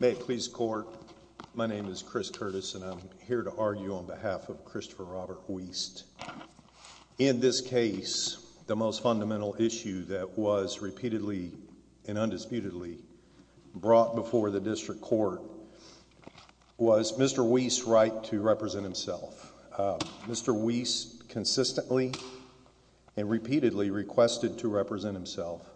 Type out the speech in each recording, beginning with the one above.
May it please the court, my name is Chris Curtis and I'm here to argue on behalf of Christopher Robert Weast. In this case, the most fundamental issue that was repeatedly and undisputedly brought before the district court was Mr. Weast's right to represent himself. Mr. Weast consistently and repeatedly requested to represent himself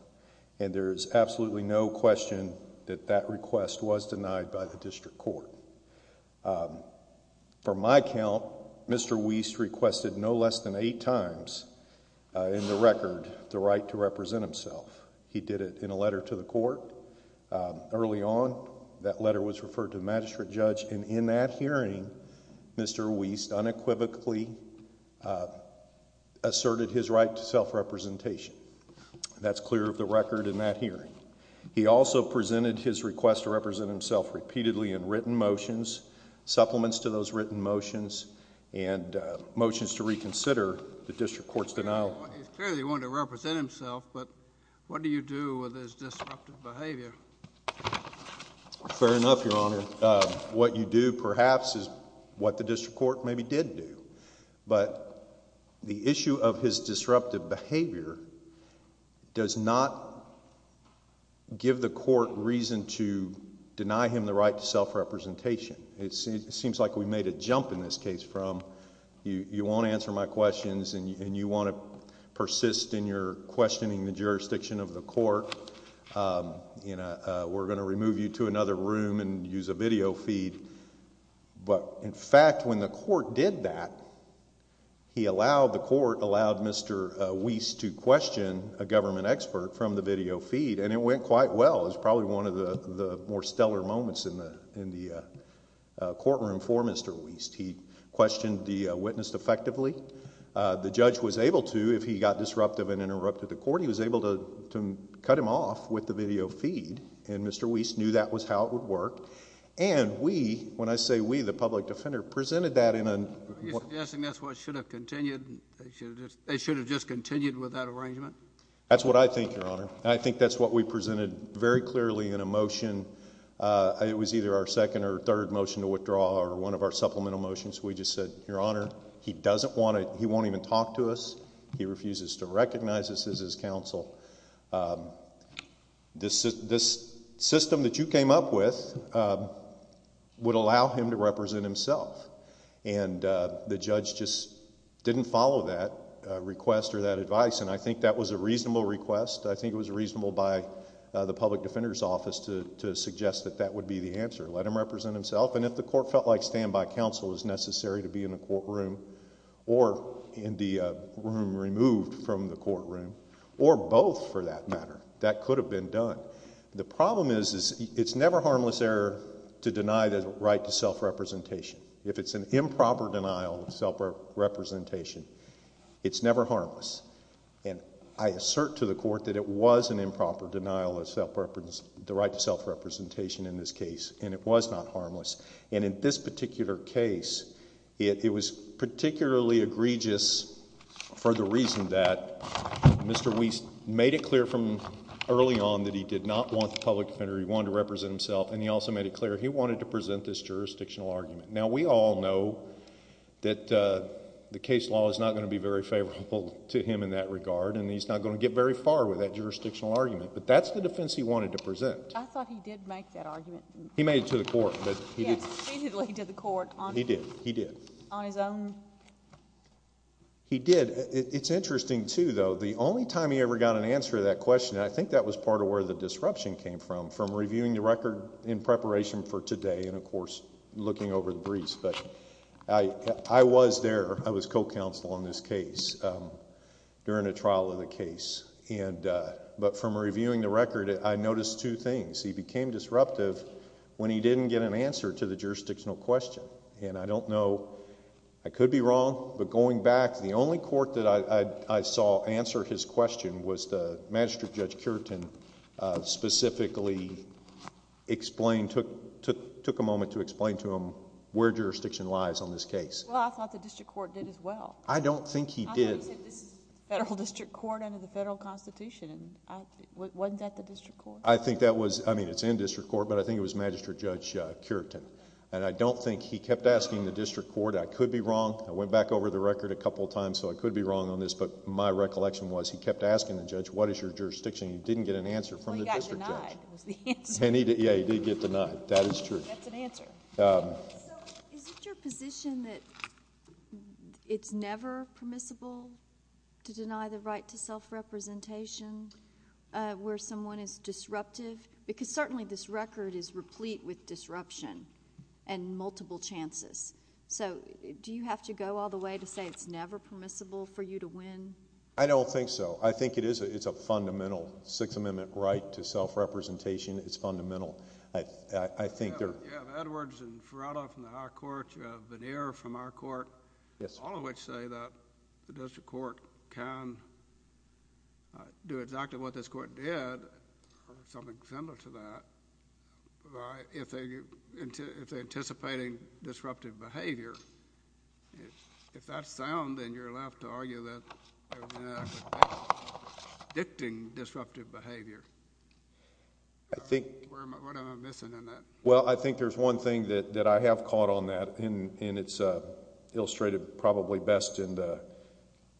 and there is absolutely no question that that request was denied by the district court. For my count, Mr. Weast requested no less than eight times in the record the right to represent himself. He did it in a letter to the court. Early on, that letter was referred to the magistrate judge and in that hearing, Mr. Weast unequivocally asserted his right to self-representation. That's clear of the record in that hearing. He also presented his request to represent himself repeatedly in written motions, supplements to those written motions, and motions to reconsider the district court's denial. He clearly wanted to represent himself, but what do you do with his disruptive behavior? Fair enough, Your Honor. What you do perhaps is what the district court maybe did do, but the issue of his disruptive behavior does not give the court reason to deny him the right to self-representation. It seems like we made a jump in this case from you want to answer my questions and you want to persist in your questioning the jurisdiction of the court, we're going to remove you to another room and use a video feed, but in fact, when the court did that, the court allowed Mr. Weast to question a government expert from the video feed and it went quite well. It's probably one of the more stellar moments in the courtroom for Mr. Weast. He questioned the witness effectively. The judge was able to, if he got disruptive and interrupted the court, he was able to cut him off with the video feed, and Mr. Weast knew that was how it would work, and we, when I say we, the public defender, presented that in a... Are you suggesting that's what should have continued, they should have just continued with that arrangement? That's what I think, Your Honor. I think that's what we presented very clearly in a motion. It was either our second or third motion to withdraw, or one of our supplemental motions we just said, Your Honor, he doesn't want to... he won't even talk to us. He refuses to recognize us as his counsel. This system that you came up with would allow him to represent himself, and the judge just didn't follow that request or that advice, and I think that was a reasonable request. I think it was reasonable by the public defender's office to suggest that that would be the answer. Let him represent himself, and if the court felt like standby counsel was necessary to be in the courtroom, or in the room removed from the courtroom, or both for that matter, that could have been done. The problem is, it's never harmless error to deny the right to self-representation. If it's an improper denial of self-representation, it's never harmless. I assert to the court that it was an improper denial of the right to self-representation in this case, and it was not harmless, and in this particular case, it was particularly egregious for the reason that Mr. Weiss made it clear from early on that he did not want the public defender, he wanted to represent himself, and he also made it clear he wanted to present this jurisdictional argument. Now we all know that the case law is not going to be very favorable to him in that regard, and he's not going to get very far with that jurisdictional argument, but that's the defense he wanted to present. I thought he did make that argument. He made it to the court, but... Yes, he did lead to the court on... He did. He did. On his own? He did. It's interesting, too, though. The only time he ever got an answer to that question, and I think that was part of where the disruption came from, from reviewing the record in preparation for today, and of course, looking over the briefs, but I was there. I was co-counsel on this case during the trial of the case, but from reviewing the record, I noticed two things. He became disruptive when he didn't get an answer to the jurisdictional question, and I don't know... I could be wrong, but going back, the only court that I saw answer his question was the Magistrate Judge Curtin specifically explained, took a moment to explain to him where jurisdiction lies on this case. Well, I thought the district court did as well. I don't think he did. Well, he said this is the federal district court under the federal constitution. Wasn't that the district court? I think that was... I mean, it's in district court, but I think it was Magistrate Judge Curtin, and I don't think... he kept asking the district court. I could be wrong. I went back over the record a couple of times, so I could be wrong on this, but my recollection was he kept asking the judge, what is your jurisdiction, and he didn't get an answer from the district judge. Well, he got denied was the answer. Yeah, he did get denied. That is true. That's an answer. So, is it your position that it's never permissible to deny the right to self-representation where someone is disruptive? Because certainly this record is replete with disruption and multiple chances. So, do you have to go all the way to say it's never permissible for you to win? I don't think so. I think it is. It's a fundamental Sixth Amendment right to self-representation. It's fundamental. I think there... You have Edwards and Ferrara from the high court. You have Vannier from our court. Yes, sir. All of which say that the district court can do exactly what this court did, or something similar to that, if they're anticipating disruptive behavior. If that's sound, then you're left to argue that there's an act dictating disruptive behavior. I think... What am I missing in that? Well, I think there's one thing that I have caught on that, and it's illustrated probably best in the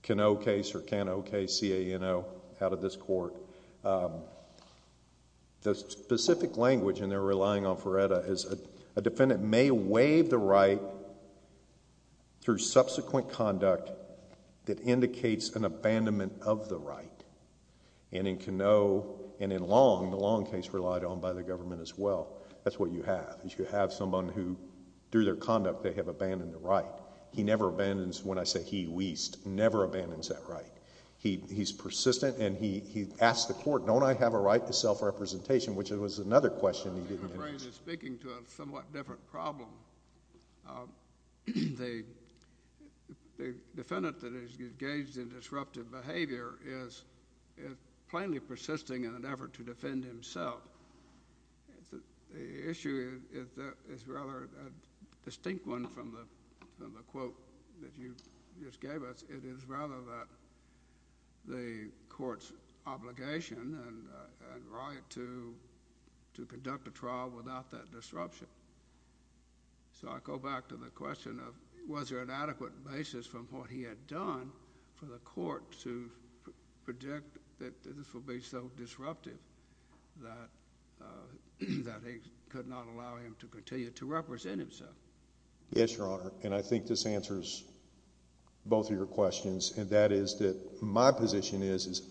Canoe case, or Can-O-K-C-A-N-O, out of this court. The specific language, and they're relying on Ferretta, is a defendant may waive the right through subsequent conduct that indicates an abandonment of the right. In Canoe, and in Long, the Long case relied on by the government as well. That's what you have. You have someone who, through their conduct, they have abandoned the right. He never abandons, when I say he weest, never abandons that right. He's persistent, and he asked the court, don't I have a right to self-representation, which was another question he didn't get asked. I think O'Brien is speaking to a somewhat different problem. The defendant that is engaged in disruptive behavior is plainly persisting in an effort to defend himself. But the issue is rather a distinct one from the quote that you just gave us. It is rather that the court's obligation and right to conduct a trial without that disruption. So I go back to the question of was there an adequate basis from what he had done for the court to project that this would be so disruptive that he could not allow him to continue to represent himself? Yes, Your Honor, and I think this answers both of your questions, and that is that my position is,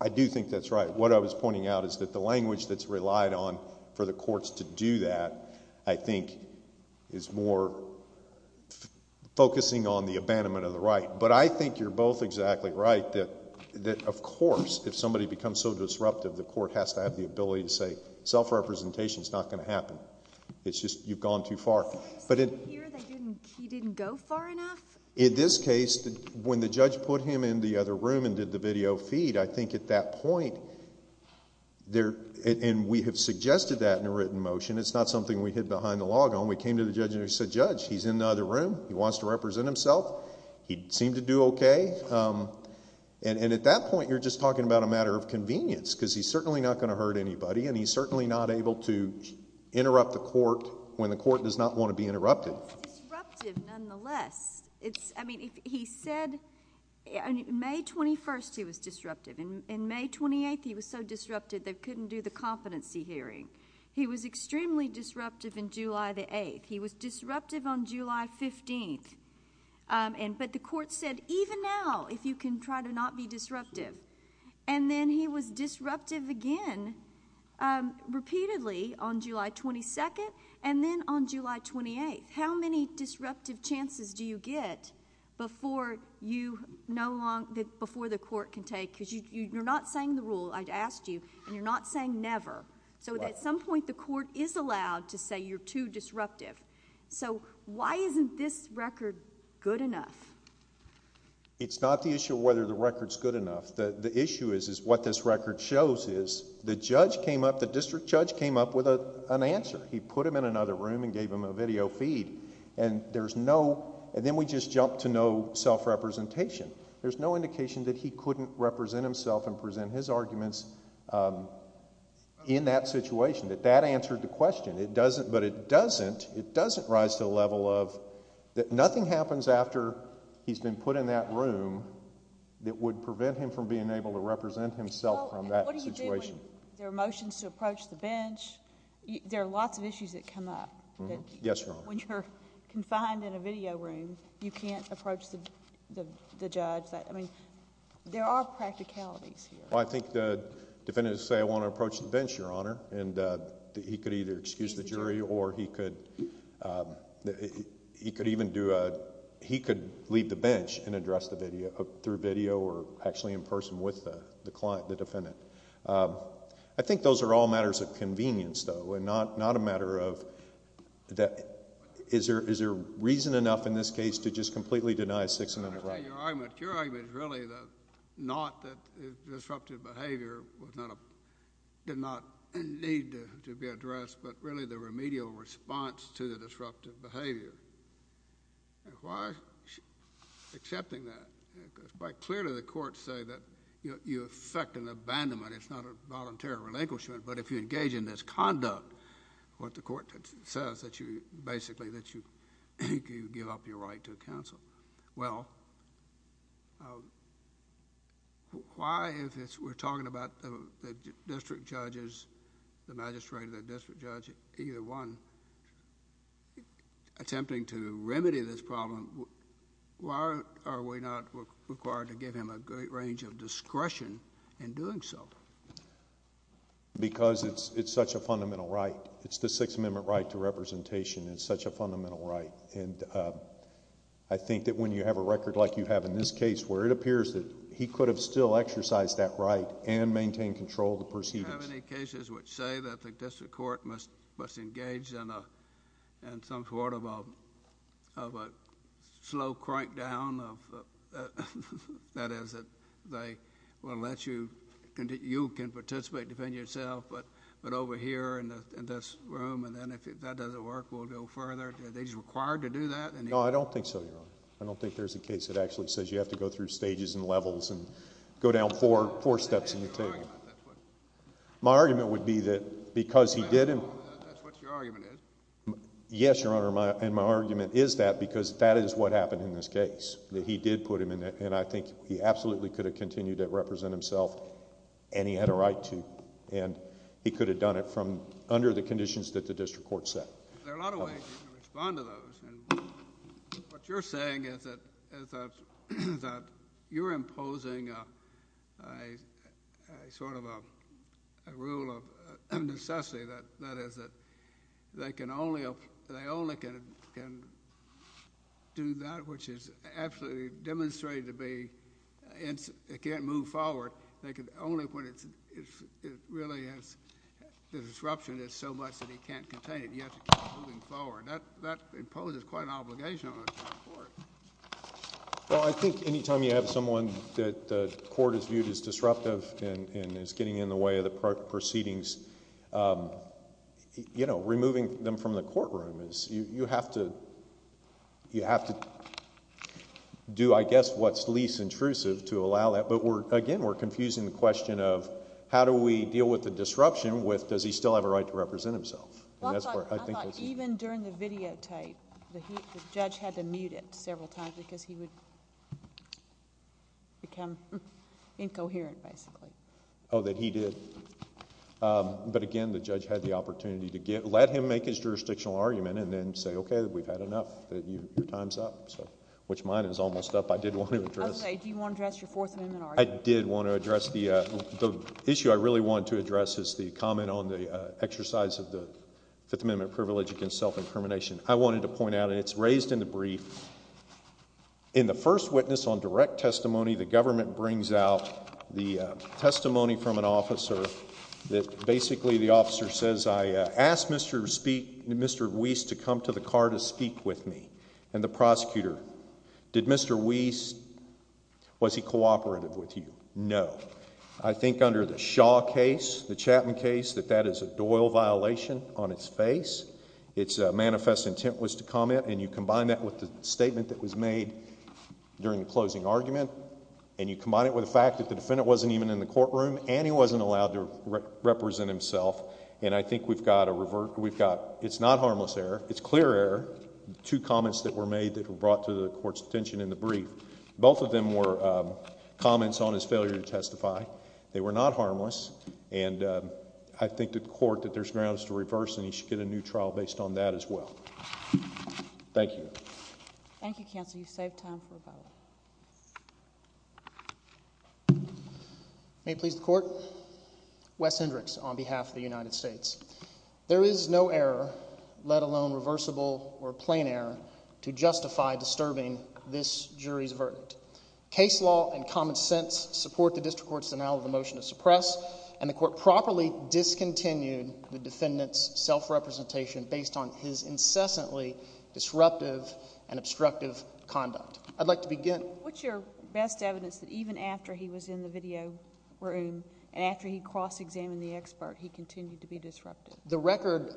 I do think that's right. What I was pointing out is that the language that's relied on for the courts to do that, I think, is more focusing on the abandonment of the right. But I think you're both exactly right that, of course, if somebody becomes so disruptive, the court has to have the ability to say self-representation is not going to happen. It's just you've gone too far. But in... So you're saying here that he didn't go far enough? In this case, when the judge put him in the other room and did the video feed, I think at that point there... and we have suggested that in a written motion. It's not something we hid behind the log on. We came to the judge and we said, Judge, he's in the other room. He wants to represent himself. He seemed to do okay. And at that point, you're just talking about a matter of convenience, because he's certainly not going to hurt anybody, and he's certainly not able to interrupt the court when the court does not want to be interrupted. It's disruptive, nonetheless. I mean, he said... on May 21st, he was disruptive. In May 28th, he was so disruptive, they couldn't do the competency hearing. He was extremely disruptive in July the 8th. He was disruptive on July 15th, but the court said, even now, if you can try to not be disruptive. And then he was disruptive again, repeatedly, on July 22nd, and then on July 28th. How many disruptive chances do you get before the court can take... because you're not saying the rule, I asked you, and you're not saying never. So at some point, the court is allowed to say you're too disruptive. So why isn't this record good enough? It's not the issue of whether the record's good enough. The issue is, is what this record shows is, the judge came up, the district judge came up with an answer. He put him in another room and gave him a video feed. And there's no... and then we just jumped to no self-representation. There's no indication that he couldn't represent himself and present his arguments in that situation, that that answered the question. It doesn't... but it doesn't... it doesn't rise to the level of... that nothing happens after he's been put in that room that would prevent him from being able to represent himself from that situation. Well, and what do you do when there are motions to approach the bench? Yes, Your Honor. When you're confined in a video room, you can't approach the judge. I mean, there are practicalities here. Well, I think the defendant would say, I want to approach the bench, Your Honor. And he could either excuse the jury or he could even do a... he could leave the bench and address the video, through video or actually in person with the client, the defendant. I think those are all matters of convenience, though, and not a matter of... that... is there reason enough in this case to just completely deny a six-minute run? I understand your argument. Your argument is really the... not that the disruptive behavior was not a... did not need to be addressed, but really the remedial response to the disruptive behavior. And why is she accepting that? Quite clearly, the courts say that you affect an abandonment, it's not a voluntary relinquishment, but if you engage in this conduct, what the court says that you basically... that you give up your right to counsel. Well, why, if we're talking about the district judges, the magistrate or the district judge, either one, attempting to remedy this problem, why are we not required to give him a great range of discretion in doing so? Because it's such a fundamental right. It's the Sixth Amendment right to representation. It's such a fundamental right, and I think that when you have a record like you have in this case, where it appears that he could have still exercised that right and maintained control of the proceedings. Do you have any cases which say that the district court must engage in some sort of a slow crank down of... that is, that they will let you... you can participate to defend yourself, but over here in this room, and then if that doesn't work, we'll go further. Is he required to do that? No, I don't think so, Your Honor. I don't think there's a case that actually says you have to go through stages and levels and go down four steps in the table. My argument would be that because he did... That's what your argument is. Yes, Your Honor, and my argument is that because that is what happened in this case, that he did put him in it, and I think he absolutely could have continued to represent himself and he had a right to, and he could have done it from under the conditions that the district court set. There are a lot of ways you can respond to those, and what you're saying is that you're imposing a sort of a rule of necessity, that is, that they can only... they only can do that which is absolutely demonstrated to be... it can't move forward. They can only... when it really has... the disruption is so much that he can't contain it. You have to keep moving forward. That imposes quite an obligation on the district court. Well, I think anytime you have someone that the court has viewed as disruptive and is getting in the way of the proceedings, removing them from the courtroom is... you have to do, I guess, what's least intrusive to allow that, but again, we're confusing the question of how do we deal with the disruption with does he still have a right to represent himself? And that's where I think... Even during the videotape, the judge had to mute it several times because he would become incoherent basically. Oh, that he did? But again, the judge had the opportunity to get... let him make his jurisdictional argument and then say, okay, we've had enough, that your time's up, so... which mine is almost up. I did want to address... I was going to say, do you want to address your Fourth Amendment argument? I did want to address the... the issue I really wanted to address is the comment on the exercise of the Fifth Amendment privilege against self-incrimination. I wanted to point out, and it's raised in the brief, in the first witness on direct testimony, the government brings out the testimony from an officer that basically the officer says, I asked Mr. Weiss to come to the car to speak with me and the prosecutor. Did Mr. Weiss... was he cooperative with you? No. I think under the Shaw case, the Chapman case, that that is a Doyle violation on its face. Its manifest intent was to comment and you combine that with the statement that was made during the closing argument and you combine it with the fact that the defendant wasn't even in the courtroom and he wasn't allowed to represent himself and I think we've got a... we've got... it's not harmless error, it's clear error, the two comments that were made that were brought to the court's attention in the brief. Both of them were comments on his failure to testify. They were not harmless and I think the court that there's grounds to reverse and he should get a new trial based on that as well. Thank you. Thank you, counsel. You've saved time for a vote. May it please the court? Wes Hendricks on behalf of the United States. There is no error, let alone reversible or plain error, to justify disturbing this jury's verdict. Case law and common sense support the district court's denial of the motion to suppress and the court properly discontinued the defendant's self-representation based on his incessantly disruptive and obstructive conduct. I'd like to begin... What's your best evidence that even after he was in the video room and after he cross-examined the expert, he continued to be disruptive? The record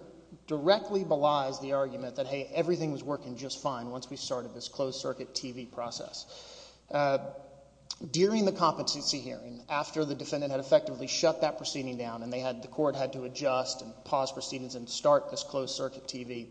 directly belies the argument that, hey, everything was working just fine once we started this closed circuit TV process. During the competency hearing, after the defendant had effectively shut that proceeding down and they had... the court had to adjust and pause proceedings and start this closed circuit TV,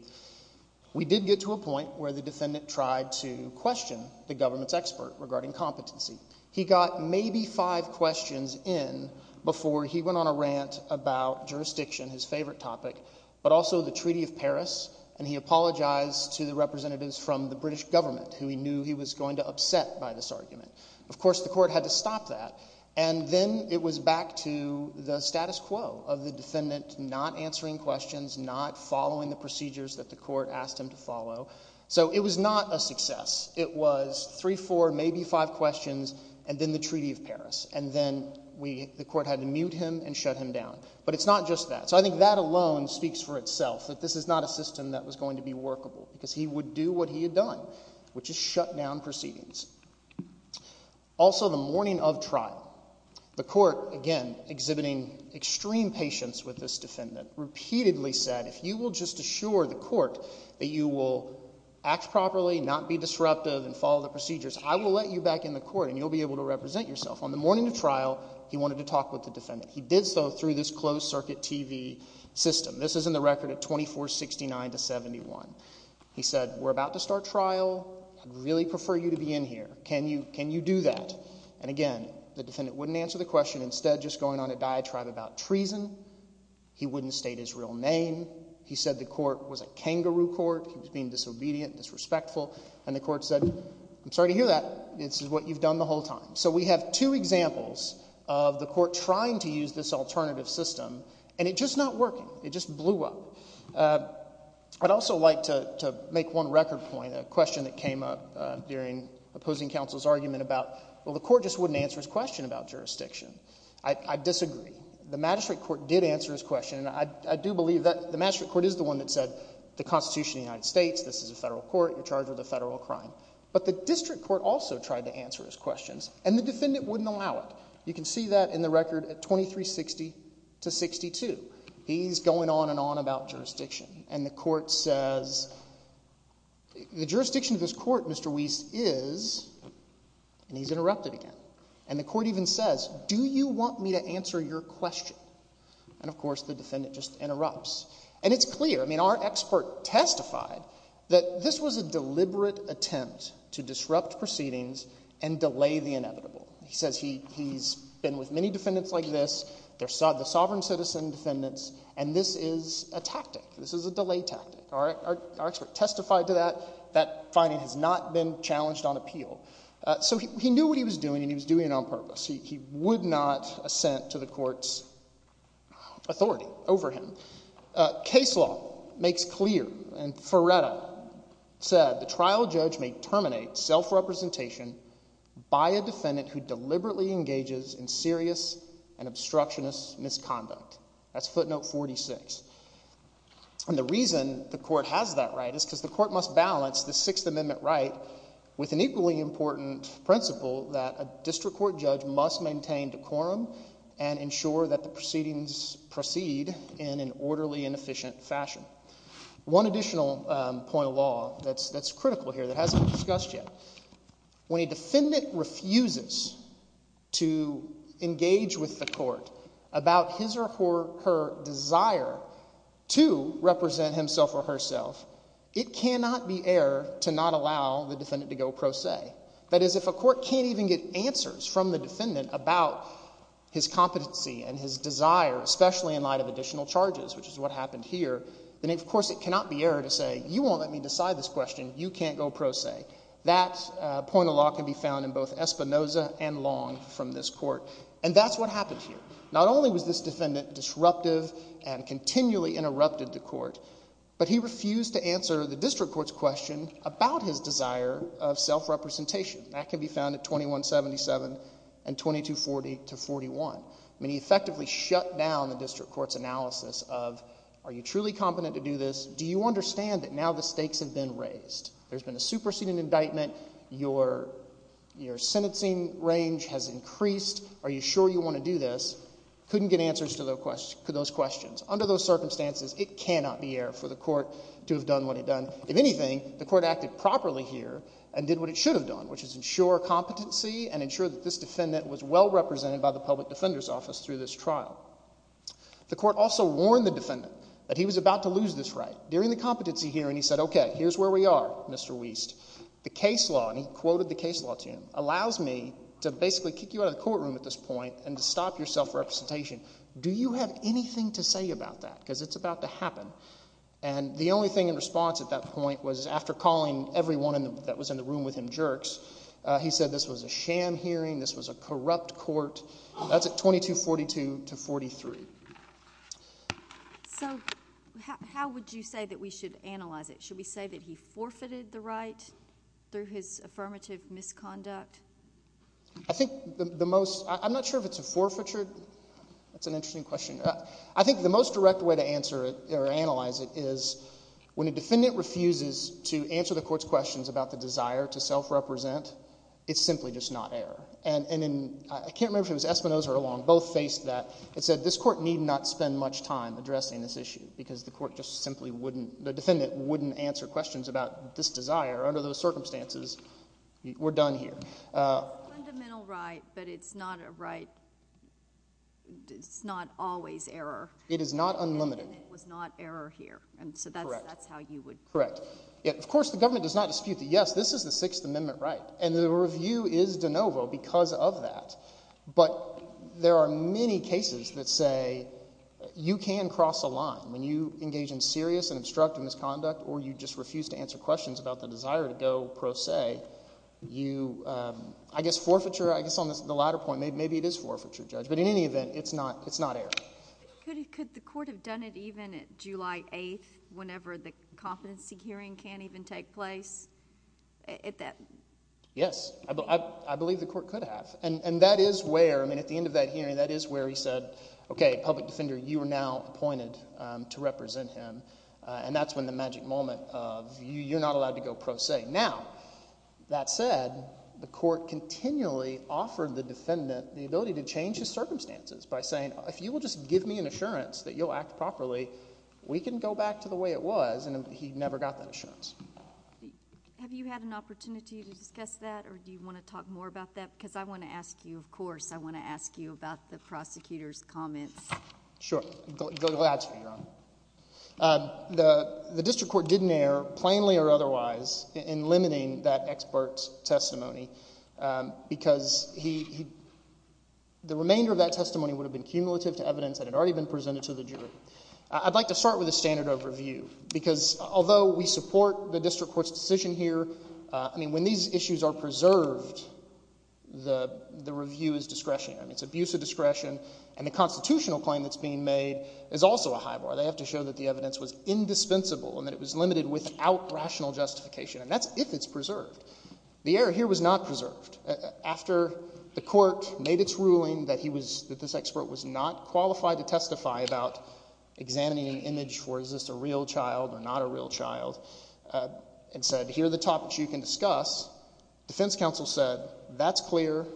we did get to a point where the defendant tried to question the government's expert regarding competency. He got maybe five questions in before he went on a rant about jurisdiction, his favorite topic, but also the Treaty of Paris, and he apologized to the representatives from the British government who he knew he was going to upset by this argument. Of course, the court had to stop that, and then it was back to the status quo of the defendant not answering questions, not following the procedures that the court asked him to follow. So it was not a success. It was three, four, maybe five questions and then the Treaty of Paris, and then the court had to mute him and shut him down. But it's not just that. So I think that alone speaks for itself, that this is not a system that was going to be workable because he would do what he had done, which is shut down proceedings. Also the morning of trial, the court, again, exhibiting extreme patience with this defendant, repeatedly said, if you will just assure the court that you will act properly, not be disruptive, and follow the procedures, I will let you back in the court and you'll be able to represent yourself. On the morning of trial, he wanted to talk with the defendant. He did so through this closed circuit TV system. This is in the record of 2469 to 71. He said, we're about to start trial. I'd really prefer you to be in here. Can you do that? And again, the defendant wouldn't answer the question, instead just going on a diatribe about treason. He wouldn't state his real name. He said the court was a kangaroo court. He was being disobedient, disrespectful. And the court said, I'm sorry to hear that. This is what you've done the whole time. So we have two examples of the court trying to use this alternative system, and it's just not working. It just blew up. I'd also like to make one record point, a question that came up during opposing counsel's argument about, well, the court just wouldn't answer his question about jurisdiction. I disagree. The magistrate court did answer his question, and I do believe that the magistrate court is the one that said, the Constitution of the United States, this is a federal court, you're charged with a federal crime. But the district court also tried to answer his questions, and the defendant wouldn't allow it. You can see that in the record at 2360 to 62. He's going on and on about jurisdiction, and the court says, the jurisdiction of this court, Mr. Weiss, is, and he's interrupted again. And the court even says, do you want me to answer your question? And of course, the defendant just interrupts. And it's clear. I mean, our expert testified that this was a deliberate attempt to disrupt proceedings and delay the inevitable. He says he's been with many defendants like this, the sovereign citizen defendants, and this is a tactic. This is a delay tactic. All right? Our expert testified to that. That finding has not been challenged on appeal. So he knew what he was doing, and he was doing it on purpose. He would not assent to the court's authority over him. Case law makes clear, and Ferretta said, the trial judge may terminate self-representation by a defendant who deliberately engages in serious and obstructionist misconduct. That's footnote 46. And the reason the court has that right is because the court must balance the Sixth Amendment right with an equally important principle that a district court judge must maintain decorum and ensure that the proceedings proceed in an orderly and efficient fashion. One additional point of law that's critical here that hasn't been discussed yet. When a defendant refuses to engage with the court about his or her desire to represent himself or herself, it cannot be error to not allow the defendant to go pro se. That is, if a court can't even get answers from the defendant about his competency and his desire, especially in light of additional charges, which is what happened here, then of course it cannot be error to say, you won't let me decide this question. You can't go pro se. That point of law can be found in both Espinoza and Long from this court. And that's what happened here. Not only was this defendant disruptive and continually interrupted the court, but he refused to answer the district court's question about his desire of self-representation. That can be found at 2177 and 2240 to 41. I mean, he effectively shut down the district court's analysis of, are you truly competent to do this? Do you understand that now the stakes have been raised? There's been a superseding indictment. Your sentencing range has increased. Are you sure you want to do this? Couldn't get answers to those questions. Under those circumstances, it cannot be error for the court to have done what it done. If anything, the court acted properly here and did what it should have done, which is ensure competency and ensure that this defendant was well represented by the public defender's office through this trial. The court also warned the defendant that he was about to lose this right. During the competency hearing, he said, okay, here's where we are, Mr. Wiest. The case law, and he quoted the case law to him, allows me to basically kick you out of the courtroom at this point and to stop your self-representation. Do you have anything to say about that? Because it's about to happen. And the only thing in response at that point was after calling everyone that was in the room with him jerks, he said this was a sham hearing. This was a corrupt court. That's at 2242 to 43. So how would you say that we should analyze it? Should we say that he forfeited the right through his affirmative misconduct? I think the most, I'm not sure if it's a forfeiture, that's an interesting question. I think the most direct way to answer it, or analyze it, is when a defendant refuses to answer the court's questions about the desire to self-represent, it's simply just not error. And in, I can't remember if it was Espinoza or Long, both faced that and said this court need not spend much time addressing this issue because the court just simply wouldn't, the defendant wouldn't answer questions about this desire under those circumstances, we're done here. It's a fundamental right, but it's not a right, it's not always error. It is not unlimited. And it was not error here, and so that's how you would. Correct. Of course, the government does not dispute that, yes, this is the Sixth Amendment right, and the review is de novo because of that. But there are many cases that say you can cross a line when you engage in serious and obstructive misconduct, or you just refuse to answer questions about the desire to go pro se. You, I guess forfeiture, I guess on the latter point, maybe it is forfeiture, Judge, but in any event, it's not error. Could the court have done it even at July 8th, whenever the competency hearing can't even take place? Yes, I believe the court could have, and that is where, I mean, at the end of that hearing, that is where he said, okay, public defender, you are now appointed to represent him, and that's when the magic moment of you're not allowed to go pro se. Now, that said, the court continually offered the defendant the ability to change his circumstances by saying, if you will just give me an assurance that you'll act properly, we can go back to the way it was, and he never got that assurance. Have you had an opportunity to discuss that, or do you want to talk more about that? Because I want to ask you, of course, I want to ask you about the prosecutor's comments. Sure. Glad to be here, Your Honor. The district court didn't err, plainly or otherwise, in limiting that expert's testimony because he, the remainder of that testimony would have been cumulative to evidence that had already been presented to the jury. I'd like to start with a standard of review, because although we support the district court's decision here, I mean, when these issues are preserved, the review is discretionary. I mean, it's abuse of discretion, and the constitutional claim that's being made is also a high bar. They have to show that the evidence was indispensable, and that it was limited without rational justification, and that's if it's preserved. The error here was not preserved. After the court made its ruling that he was, that this expert was not qualified to testify about examining an image for is this a real child or not a real child, and said, here are the topics you can discuss, defense counsel said, that's clear,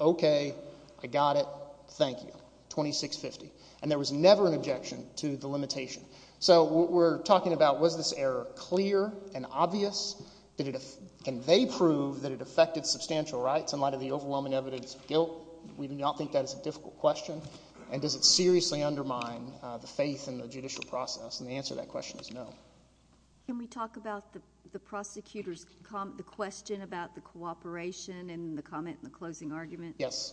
okay, I got it, thank you, 2650. And there was never an objection to the limitation. So we're talking about was this error clear and obvious? Did it, can they prove that it affected substantial rights in light of the overwhelming evidence of guilt? We do not think that is a difficult question. And does it seriously undermine the faith in the judicial process? And the answer to that question is no. Can we talk about the prosecutor's, the question about the cooperation and the comment in the closing argument? Yes.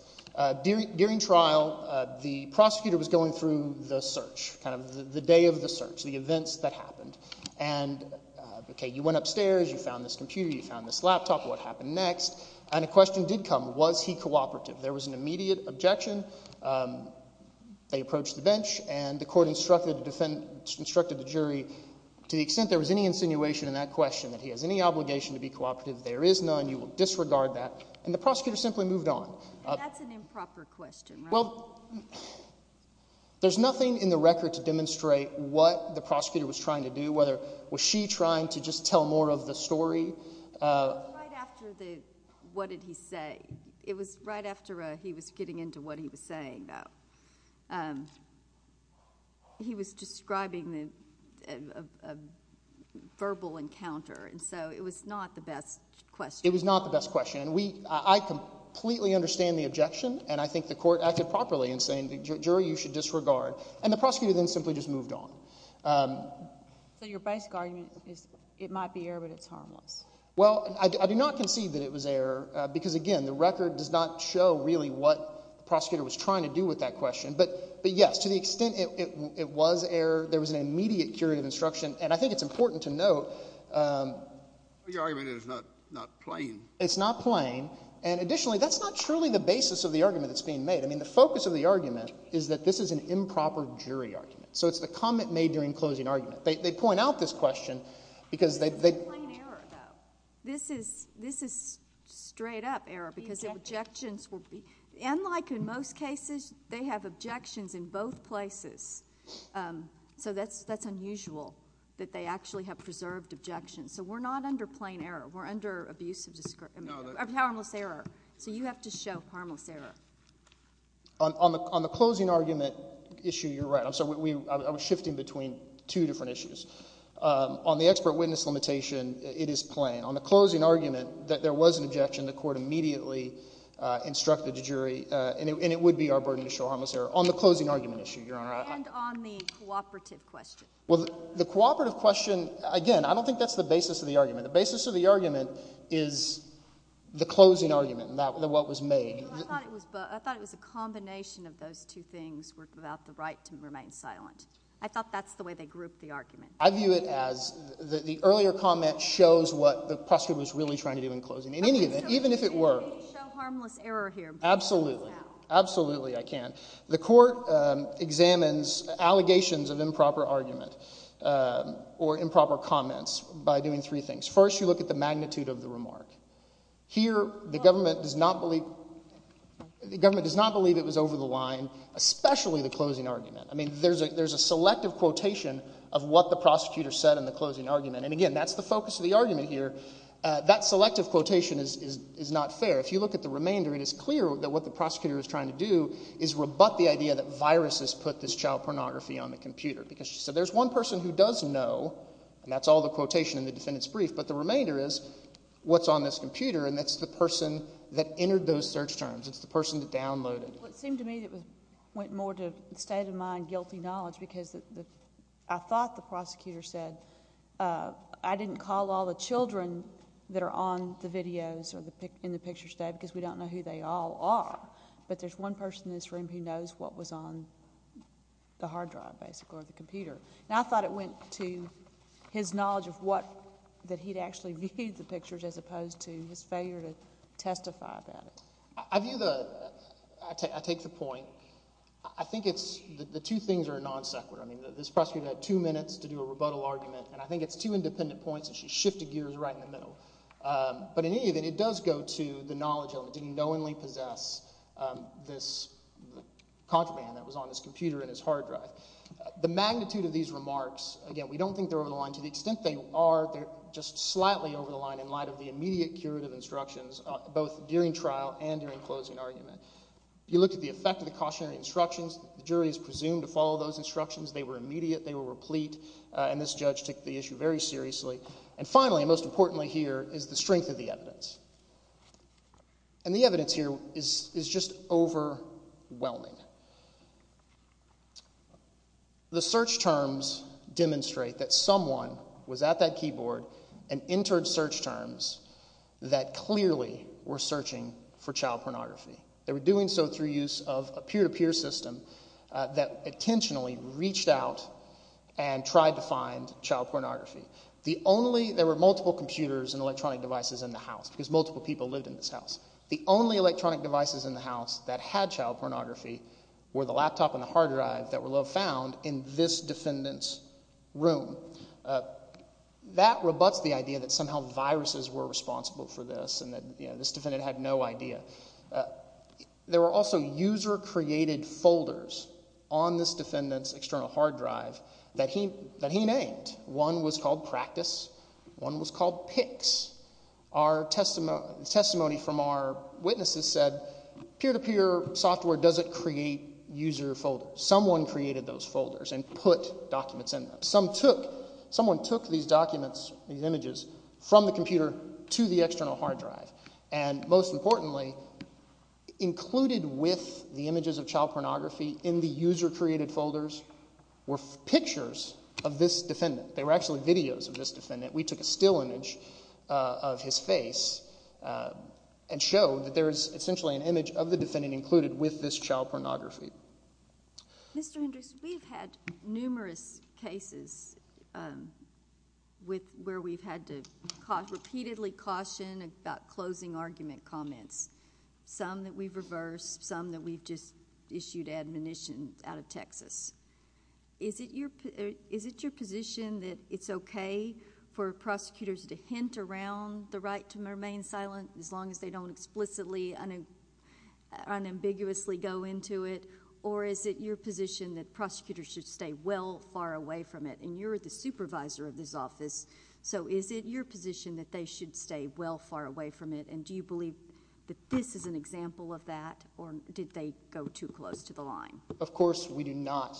During trial, the prosecutor was going through the search, kind of the day of the search, the events that happened. And okay, you went upstairs, you found this computer, you found this laptop, what happened next? And a question did come, was he cooperative? There was an immediate objection. They approached the bench, and the court instructed the defense, instructed the jury, to the extent there was any insinuation in that question that he has any obligation to be cooperative, there is none, you will disregard that, and the prosecutor simply moved on. And that's an improper question, right? Well, there's nothing in the record to demonstrate what the prosecutor was trying to do, whether was she trying to just tell more of the story? It was right after the, what did he say? It was right after he was getting into what he was saying, though. He was describing a verbal encounter, and so it was not the best question. It was not the best question. And we, I completely understand the objection, and I think the court acted properly in saying, the jury, you should disregard. And the prosecutor then simply just moved on. So your basic argument is, it might be error, but it's harmless. Well, I do not concede that it was error, because again, the record does not show really what the prosecutor was trying to do with that question. But yes, to the extent it was error, there was an immediate curative instruction, and I think it's important to note. Your argument is not plain. It's not plain, and additionally, that's not truly the basis of the argument that's being made. I mean, the focus of the argument is that this is an improper jury argument. So it's the comment made during closing argument. They point out this question, because they... It's not plain error, though. This is straight up error, because the objections will be, and like in most cases, they have objections in both places. So that's unusual, that they actually have preserved objections. So we're not under plain error. We're under harmless error, so you have to show harmless error. On the closing argument issue, you're right. I'm sorry. I was shifting between two different issues. On the expert witness limitation, it is plain. On the closing argument, that there was an objection, the court immediately instructed the jury, and it would be our burden to show harmless error. On the closing argument issue, Your Honor. And on the cooperative question. The basis of the argument is the closing argument, what was made. I thought it was a combination of those two things, without the right to remain silent. I thought that's the way they grouped the argument. I view it as the earlier comment shows what the prosecutor was really trying to do in closing. In any event, even if it were... I can show harmless error here, but I can't do it now. Absolutely. Absolutely, I can. The court examines allegations of improper argument, or improper comments, by doing three things. First, you look at the magnitude of the remark. Here, the government does not believe it was over the line, especially the closing argument. There's a selective quotation of what the prosecutor said in the closing argument. And again, that's the focus of the argument here. That selective quotation is not fair. If you look at the remainder, it is clear that what the prosecutor is trying to do is rebut the idea that viruses put this child pornography on the computer. Because there's one person who does know, and that's all the quotation in the defendant's remainder is, what's on this computer, and that's the person that entered those search terms. It's the person that downloaded it. Well, it seemed to me that it went more to state-of-mind guilty knowledge, because I thought the prosecutor said, I didn't call all the children that are on the videos or in the pictures today, because we don't know who they all are, but there's one person in this room who knows what was on the hard drive, basically, or the computer. And I thought it went to his knowledge of what, that he'd actually viewed the pictures as opposed to his failure to testify about it. I view the, I take the point. I think it's, the two things are non-separate. I mean, this prosecutor had two minutes to do a rebuttal argument, and I think it's two independent points, and she shifted gears right in the middle. But in any event, it does go to the knowledge element, didn't knowingly possess this contraband that was on his computer and his hard drive. The magnitude of these remarks, again, we don't think they're over the line. To the extent they are, they're just slightly over the line in light of the immediate curative instructions, both during trial and during closing argument. You look at the effect of the cautionary instructions, the jury is presumed to follow those instructions. They were immediate, they were replete, and this judge took the issue very seriously. And finally, and most importantly here, is the strength of the evidence. And the evidence here is just overwhelming. The search terms demonstrate that someone was at that keyboard and entered search terms that clearly were searching for child pornography. They were doing so through use of a peer-to-peer system that intentionally reached out and tried to find child pornography. There were multiple computers and electronic devices in the house because multiple people lived in this house. The only electronic devices in the house that had child pornography were the laptop and the hard drive that were found in this defendant's room. That rebutts the idea that somehow viruses were responsible for this and that this defendant had no idea. There were also user-created folders on this defendant's external hard drive that he named. One was called Practice, one was called Pics. Testimony from our witnesses said peer-to-peer software doesn't create user folders. Someone created those folders and put documents in them. Someone took these documents, these images, from the computer to the external hard drive. And most importantly, included with the images of child pornography in the user-created folders were pictures of this defendant. They were actually videos of this defendant. We took a still image of his face and showed that there is essentially an image of the defendant included with this child pornography. Mr. Hendricks, we've had numerous cases where we've had to repeatedly caution about closing argument comments, some that we've reversed, some that we've just issued admonition out of Texas. Is it your position that it's okay for prosecutors to hint around the right to remain silent as long as they don't explicitly, unambiguously go into it, or is it your position that prosecutors should stay well far away from it? And you're the supervisor of this office, so is it your position that they should stay well far away from it? And do you believe that this is an example of that, or did they go too close to the line? Of course, we do not.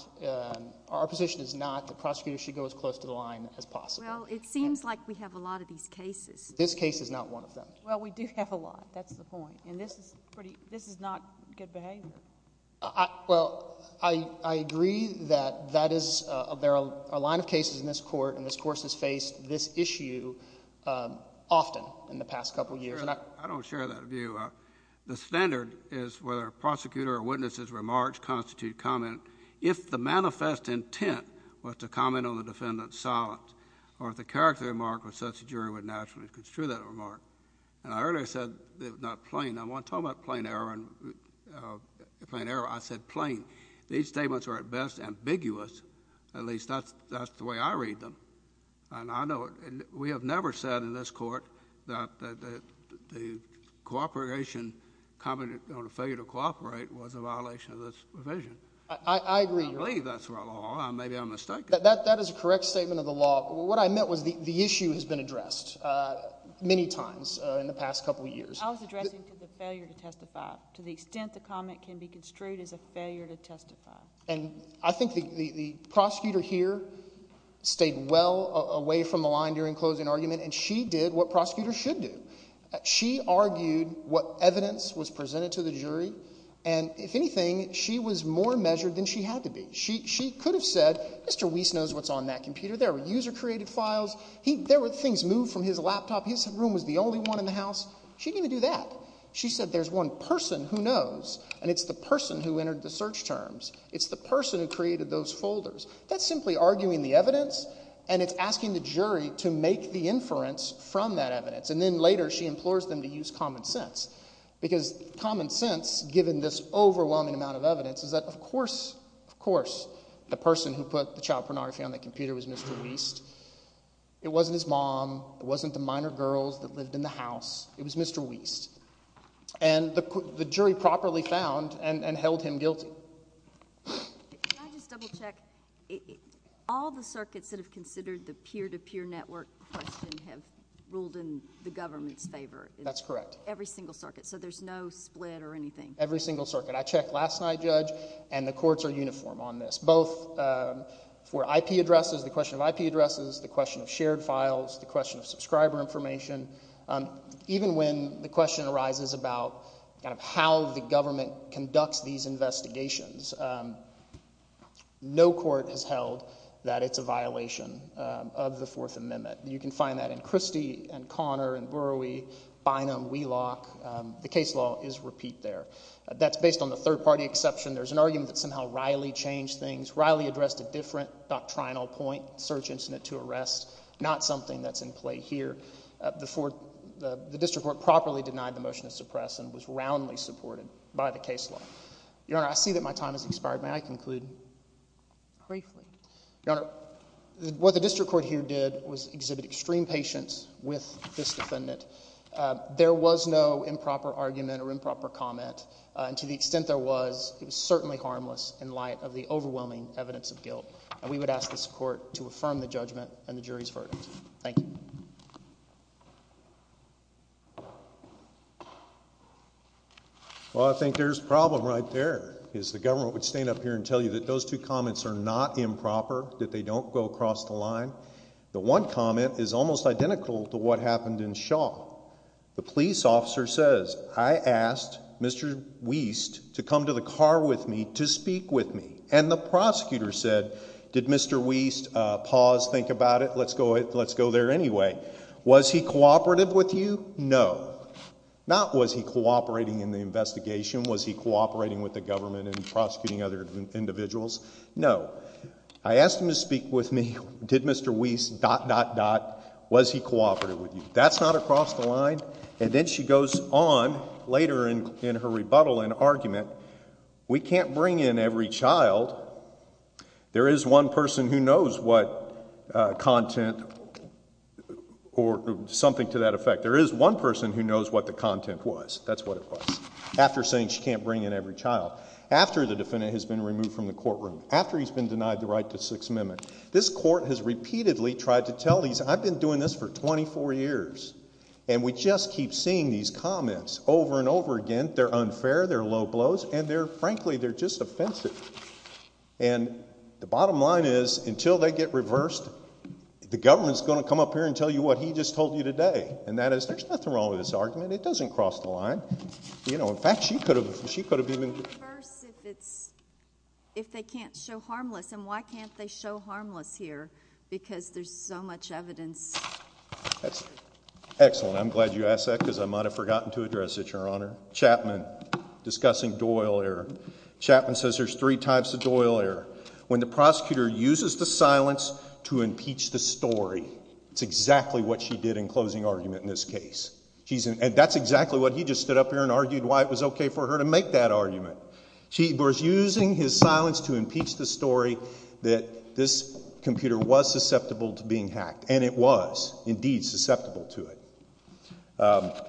Our position is not that prosecutors should go as close to the line as possible. Well, it seems like we have a lot of these cases. This case is not one of them. Well, we do have a lot. That's the point. And this is not good behavior. Well, I agree that there are a line of cases in this Court, and this Court has faced this issue often in the past couple of years. I don't share that view. The standard is whether a prosecutor or witness's remarks constitute comment. If the manifest intent was to comment on the defendant's silence or if the character of the remark was such, the jury would naturally construe that remark. And I earlier said it was not plain. I'm not talking about plain error. I said plain. These statements are, at best, ambiguous. At least, that's the way I read them. And I know it. We have never said in this Court that the cooperation, comment on a failure to cooperate, was a violation of this provision. I agree. I believe that's our law. Maybe I'm mistaken. That is a correct statement of the law. What I meant was the issue has been addressed many times in the past couple of years. I was addressing the failure to testify. To the extent the comment can be construed as a failure to testify. And I think the prosecutor here stayed well away from the line during closing argument. And she did what prosecutors should do. She argued what evidence was presented to the jury. And, if anything, she was more measured than she had to be. She could have said, Mr. Weiss knows what's on that computer. There were user-created files. There were things moved from his laptop. His room was the only one in the house. She didn't even do that. She said there's one person who knows. And it's the person who entered the search terms. It's the person who created those folders. That's simply arguing the evidence. And it's asking the jury to make the inference from that evidence. And then, later, she implores them to use common sense. Because common sense, given this overwhelming amount of evidence, is that, of course, of course, the person who put the child pornography on that computer was Mr. Weiss. It wasn't his mom. It wasn't the minor girls that lived in the house. It was Mr. Weiss. And the jury properly found and held him guilty. Can I just double check? All the circuits that have considered the peer-to-peer network question have ruled in the government's favor. That's correct. Every single circuit. So there's no split or anything. Every single circuit. I checked last night, Judge, and the courts are uniform on this. Both for IP addresses, the question of IP addresses, the question of shared files, the question of subscriber information. Even when the question arises about kind of how the government conducts these investigations, no court has held that it's a violation of the Fourth Amendment. You can find that in Christie and Connor and Burowie, Bynum, Wheelock. The case law is repeat there. That's based on the third-party exception. There's an argument that somehow Riley changed things. Riley addressed a different doctrinal point, search incident to arrest, not something that's in play here. The district court properly denied the motion to suppress and was roundly supported by the case law. Your Honor, I see that my time has expired. May I conclude? Briefly. Your Honor, what the district court here did was exhibit extreme patience with this defendant. There was no improper argument or improper comment, and to the extent there was, it was certainly harmless in light of the overwhelming evidence of guilt. And we would ask this court to affirm the judgment and the jury's verdict. Thank you. Well, I think there's a problem right there, is the government would stand up here and tell you that those two comments are not improper, that they don't go across the line. The one comment is almost identical to what happened in Shaw. The police officer says, I asked Mr. Wiest to come to the car with me to speak with me, and the prosecutor said, did Mr. Wiest pause, think about it, let's go there anyway. Was he cooperative with you? No. Not was he cooperating in the investigation, was he cooperating with the government in prosecuting other individuals? No. I asked him to speak with me, did Mr. Wiest dot, dot, dot, was he cooperative with you? That's not across the line. And then she goes on later in her rebuttal and argument, we can't bring in every child. There is one person who knows what content or something to that effect. There is one person who knows what the content was. That's what it was. After saying she can't bring in every child. After the defendant has been removed from the courtroom. After he's been denied the right to Sixth Amendment. This court has repeatedly tried to tell these, I've been doing this for 24 years, and we just keep seeing these comments over and over again. They're unfair, they're low blows, and they're frankly, they're just offensive. And the bottom line is, until they get reversed, the government is going to come up here and tell you what he just told you today. And that is, there's nothing wrong with this argument. It doesn't cross the line. You know, in fact, she could have, she could have even. Can we reverse if it's, if they can't show harmless? And why can't they show harmless here? Because there's so much evidence. Excellent. I'm glad you asked that because I might have forgotten to address it, Your Honor. Chapman discussing Doyle here. Chapman says there's three types of Doyle error. When the prosecutor uses the silence to impeach the story. It's exactly what she did in closing argument in this case. And that's exactly what he just stood up here and argued why it was okay for her to make that argument. She was using his silence to impeach the story that this computer was susceptible to being hacked. And it was indeed susceptible to it.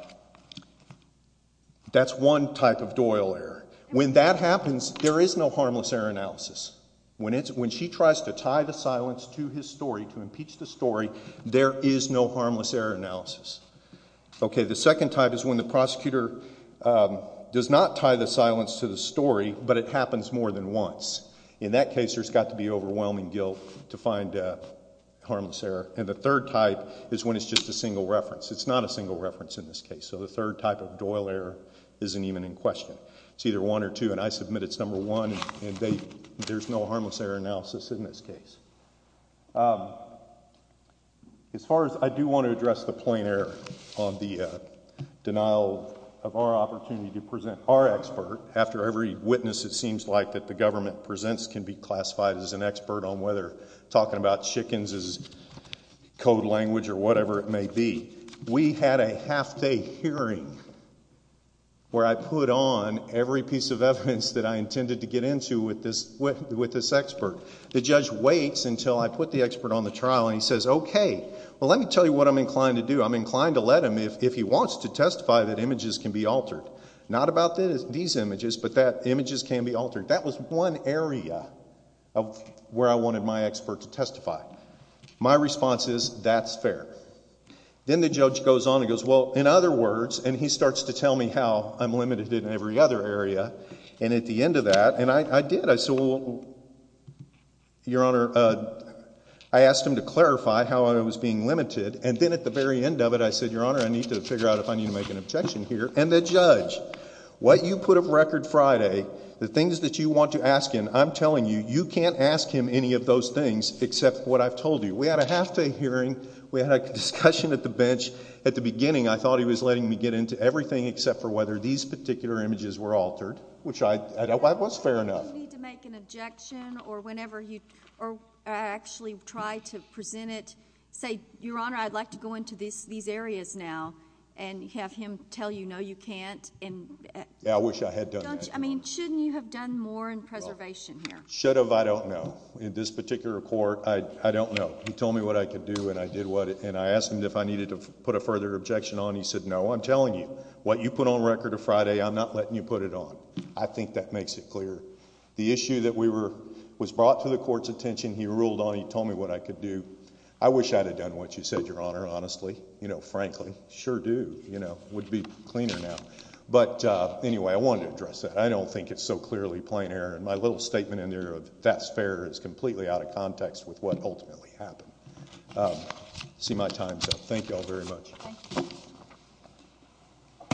That's one type of Doyle error. When that happens, there is no harmless error analysis. When she tries to tie the silence to his story, to impeach the story, there is no harmless error analysis. Okay, the second type is when the prosecutor does not tie the silence to the story, but it happens more than once. In that case, there's got to be overwhelming guilt to find harmless error. And the third type is when it's just a single reference. It's not a single reference in this case. So the third type of Doyle error isn't even in question. It's either one or two, and I submit it's number one, and there's no harmless error analysis in this case. As far as I do want to address the point there on the denial of our opportunity to present our expert, after every witness it seems like that the government presents can be classified as an expert on whether talking about chickens is code language or whatever it may be. We had a half-day hearing where I put on every piece of evidence that I intended to get into with this expert. The judge waits until I put the expert on the trial, and he says, okay, well let me tell you what I'm inclined to do. I'm inclined to let him if he wants to testify that images can be altered. Not about these images, but that images can be altered. That was one area where I wanted my expert to testify. My response is that's fair. Then the judge goes on and goes, well, in other words, and he starts to tell me how I'm limited in every other area, and at the end of that, and I did. I said, well, Your Honor, I asked him to clarify how I was being limited, and then at the very end of it I said, Your Honor, I need to figure out if I need to make an objection here. And the judge, what you put up record Friday, the things that you want to ask him, I'm telling you, you can't ask him any of those things except what I've told you. We had a half-day hearing. We had a discussion at the bench. At the beginning I thought he was letting me get into everything except for whether these particular images were altered, which I thought was fair enough. If you need to make an objection or whenever you actually try to present it, say, Your Honor, I'd like to go into these areas now and have him tell you, no, you can't. Yeah, I wish I had done that, Your Honor. I mean, shouldn't you have done more in preservation here? Should have, I don't know. In this particular court, I don't know. He told me what I could do, and I asked him if I needed to put a further objection on. He said, no, I'm telling you, what you put on record a Friday, I'm not letting you put it on. I think that makes it clear. The issue that was brought to the court's attention he ruled on, he told me what I could do. I wish I had done what you said, Your Honor, honestly, frankly. Sure do. It would be cleaner now. But anyway, I wanted to address that. I don't think it's so clearly plain error. And my little statement in there of that's fair is completely out of context with what ultimately happened. I see my time's up. Thank you all very much. Thank you.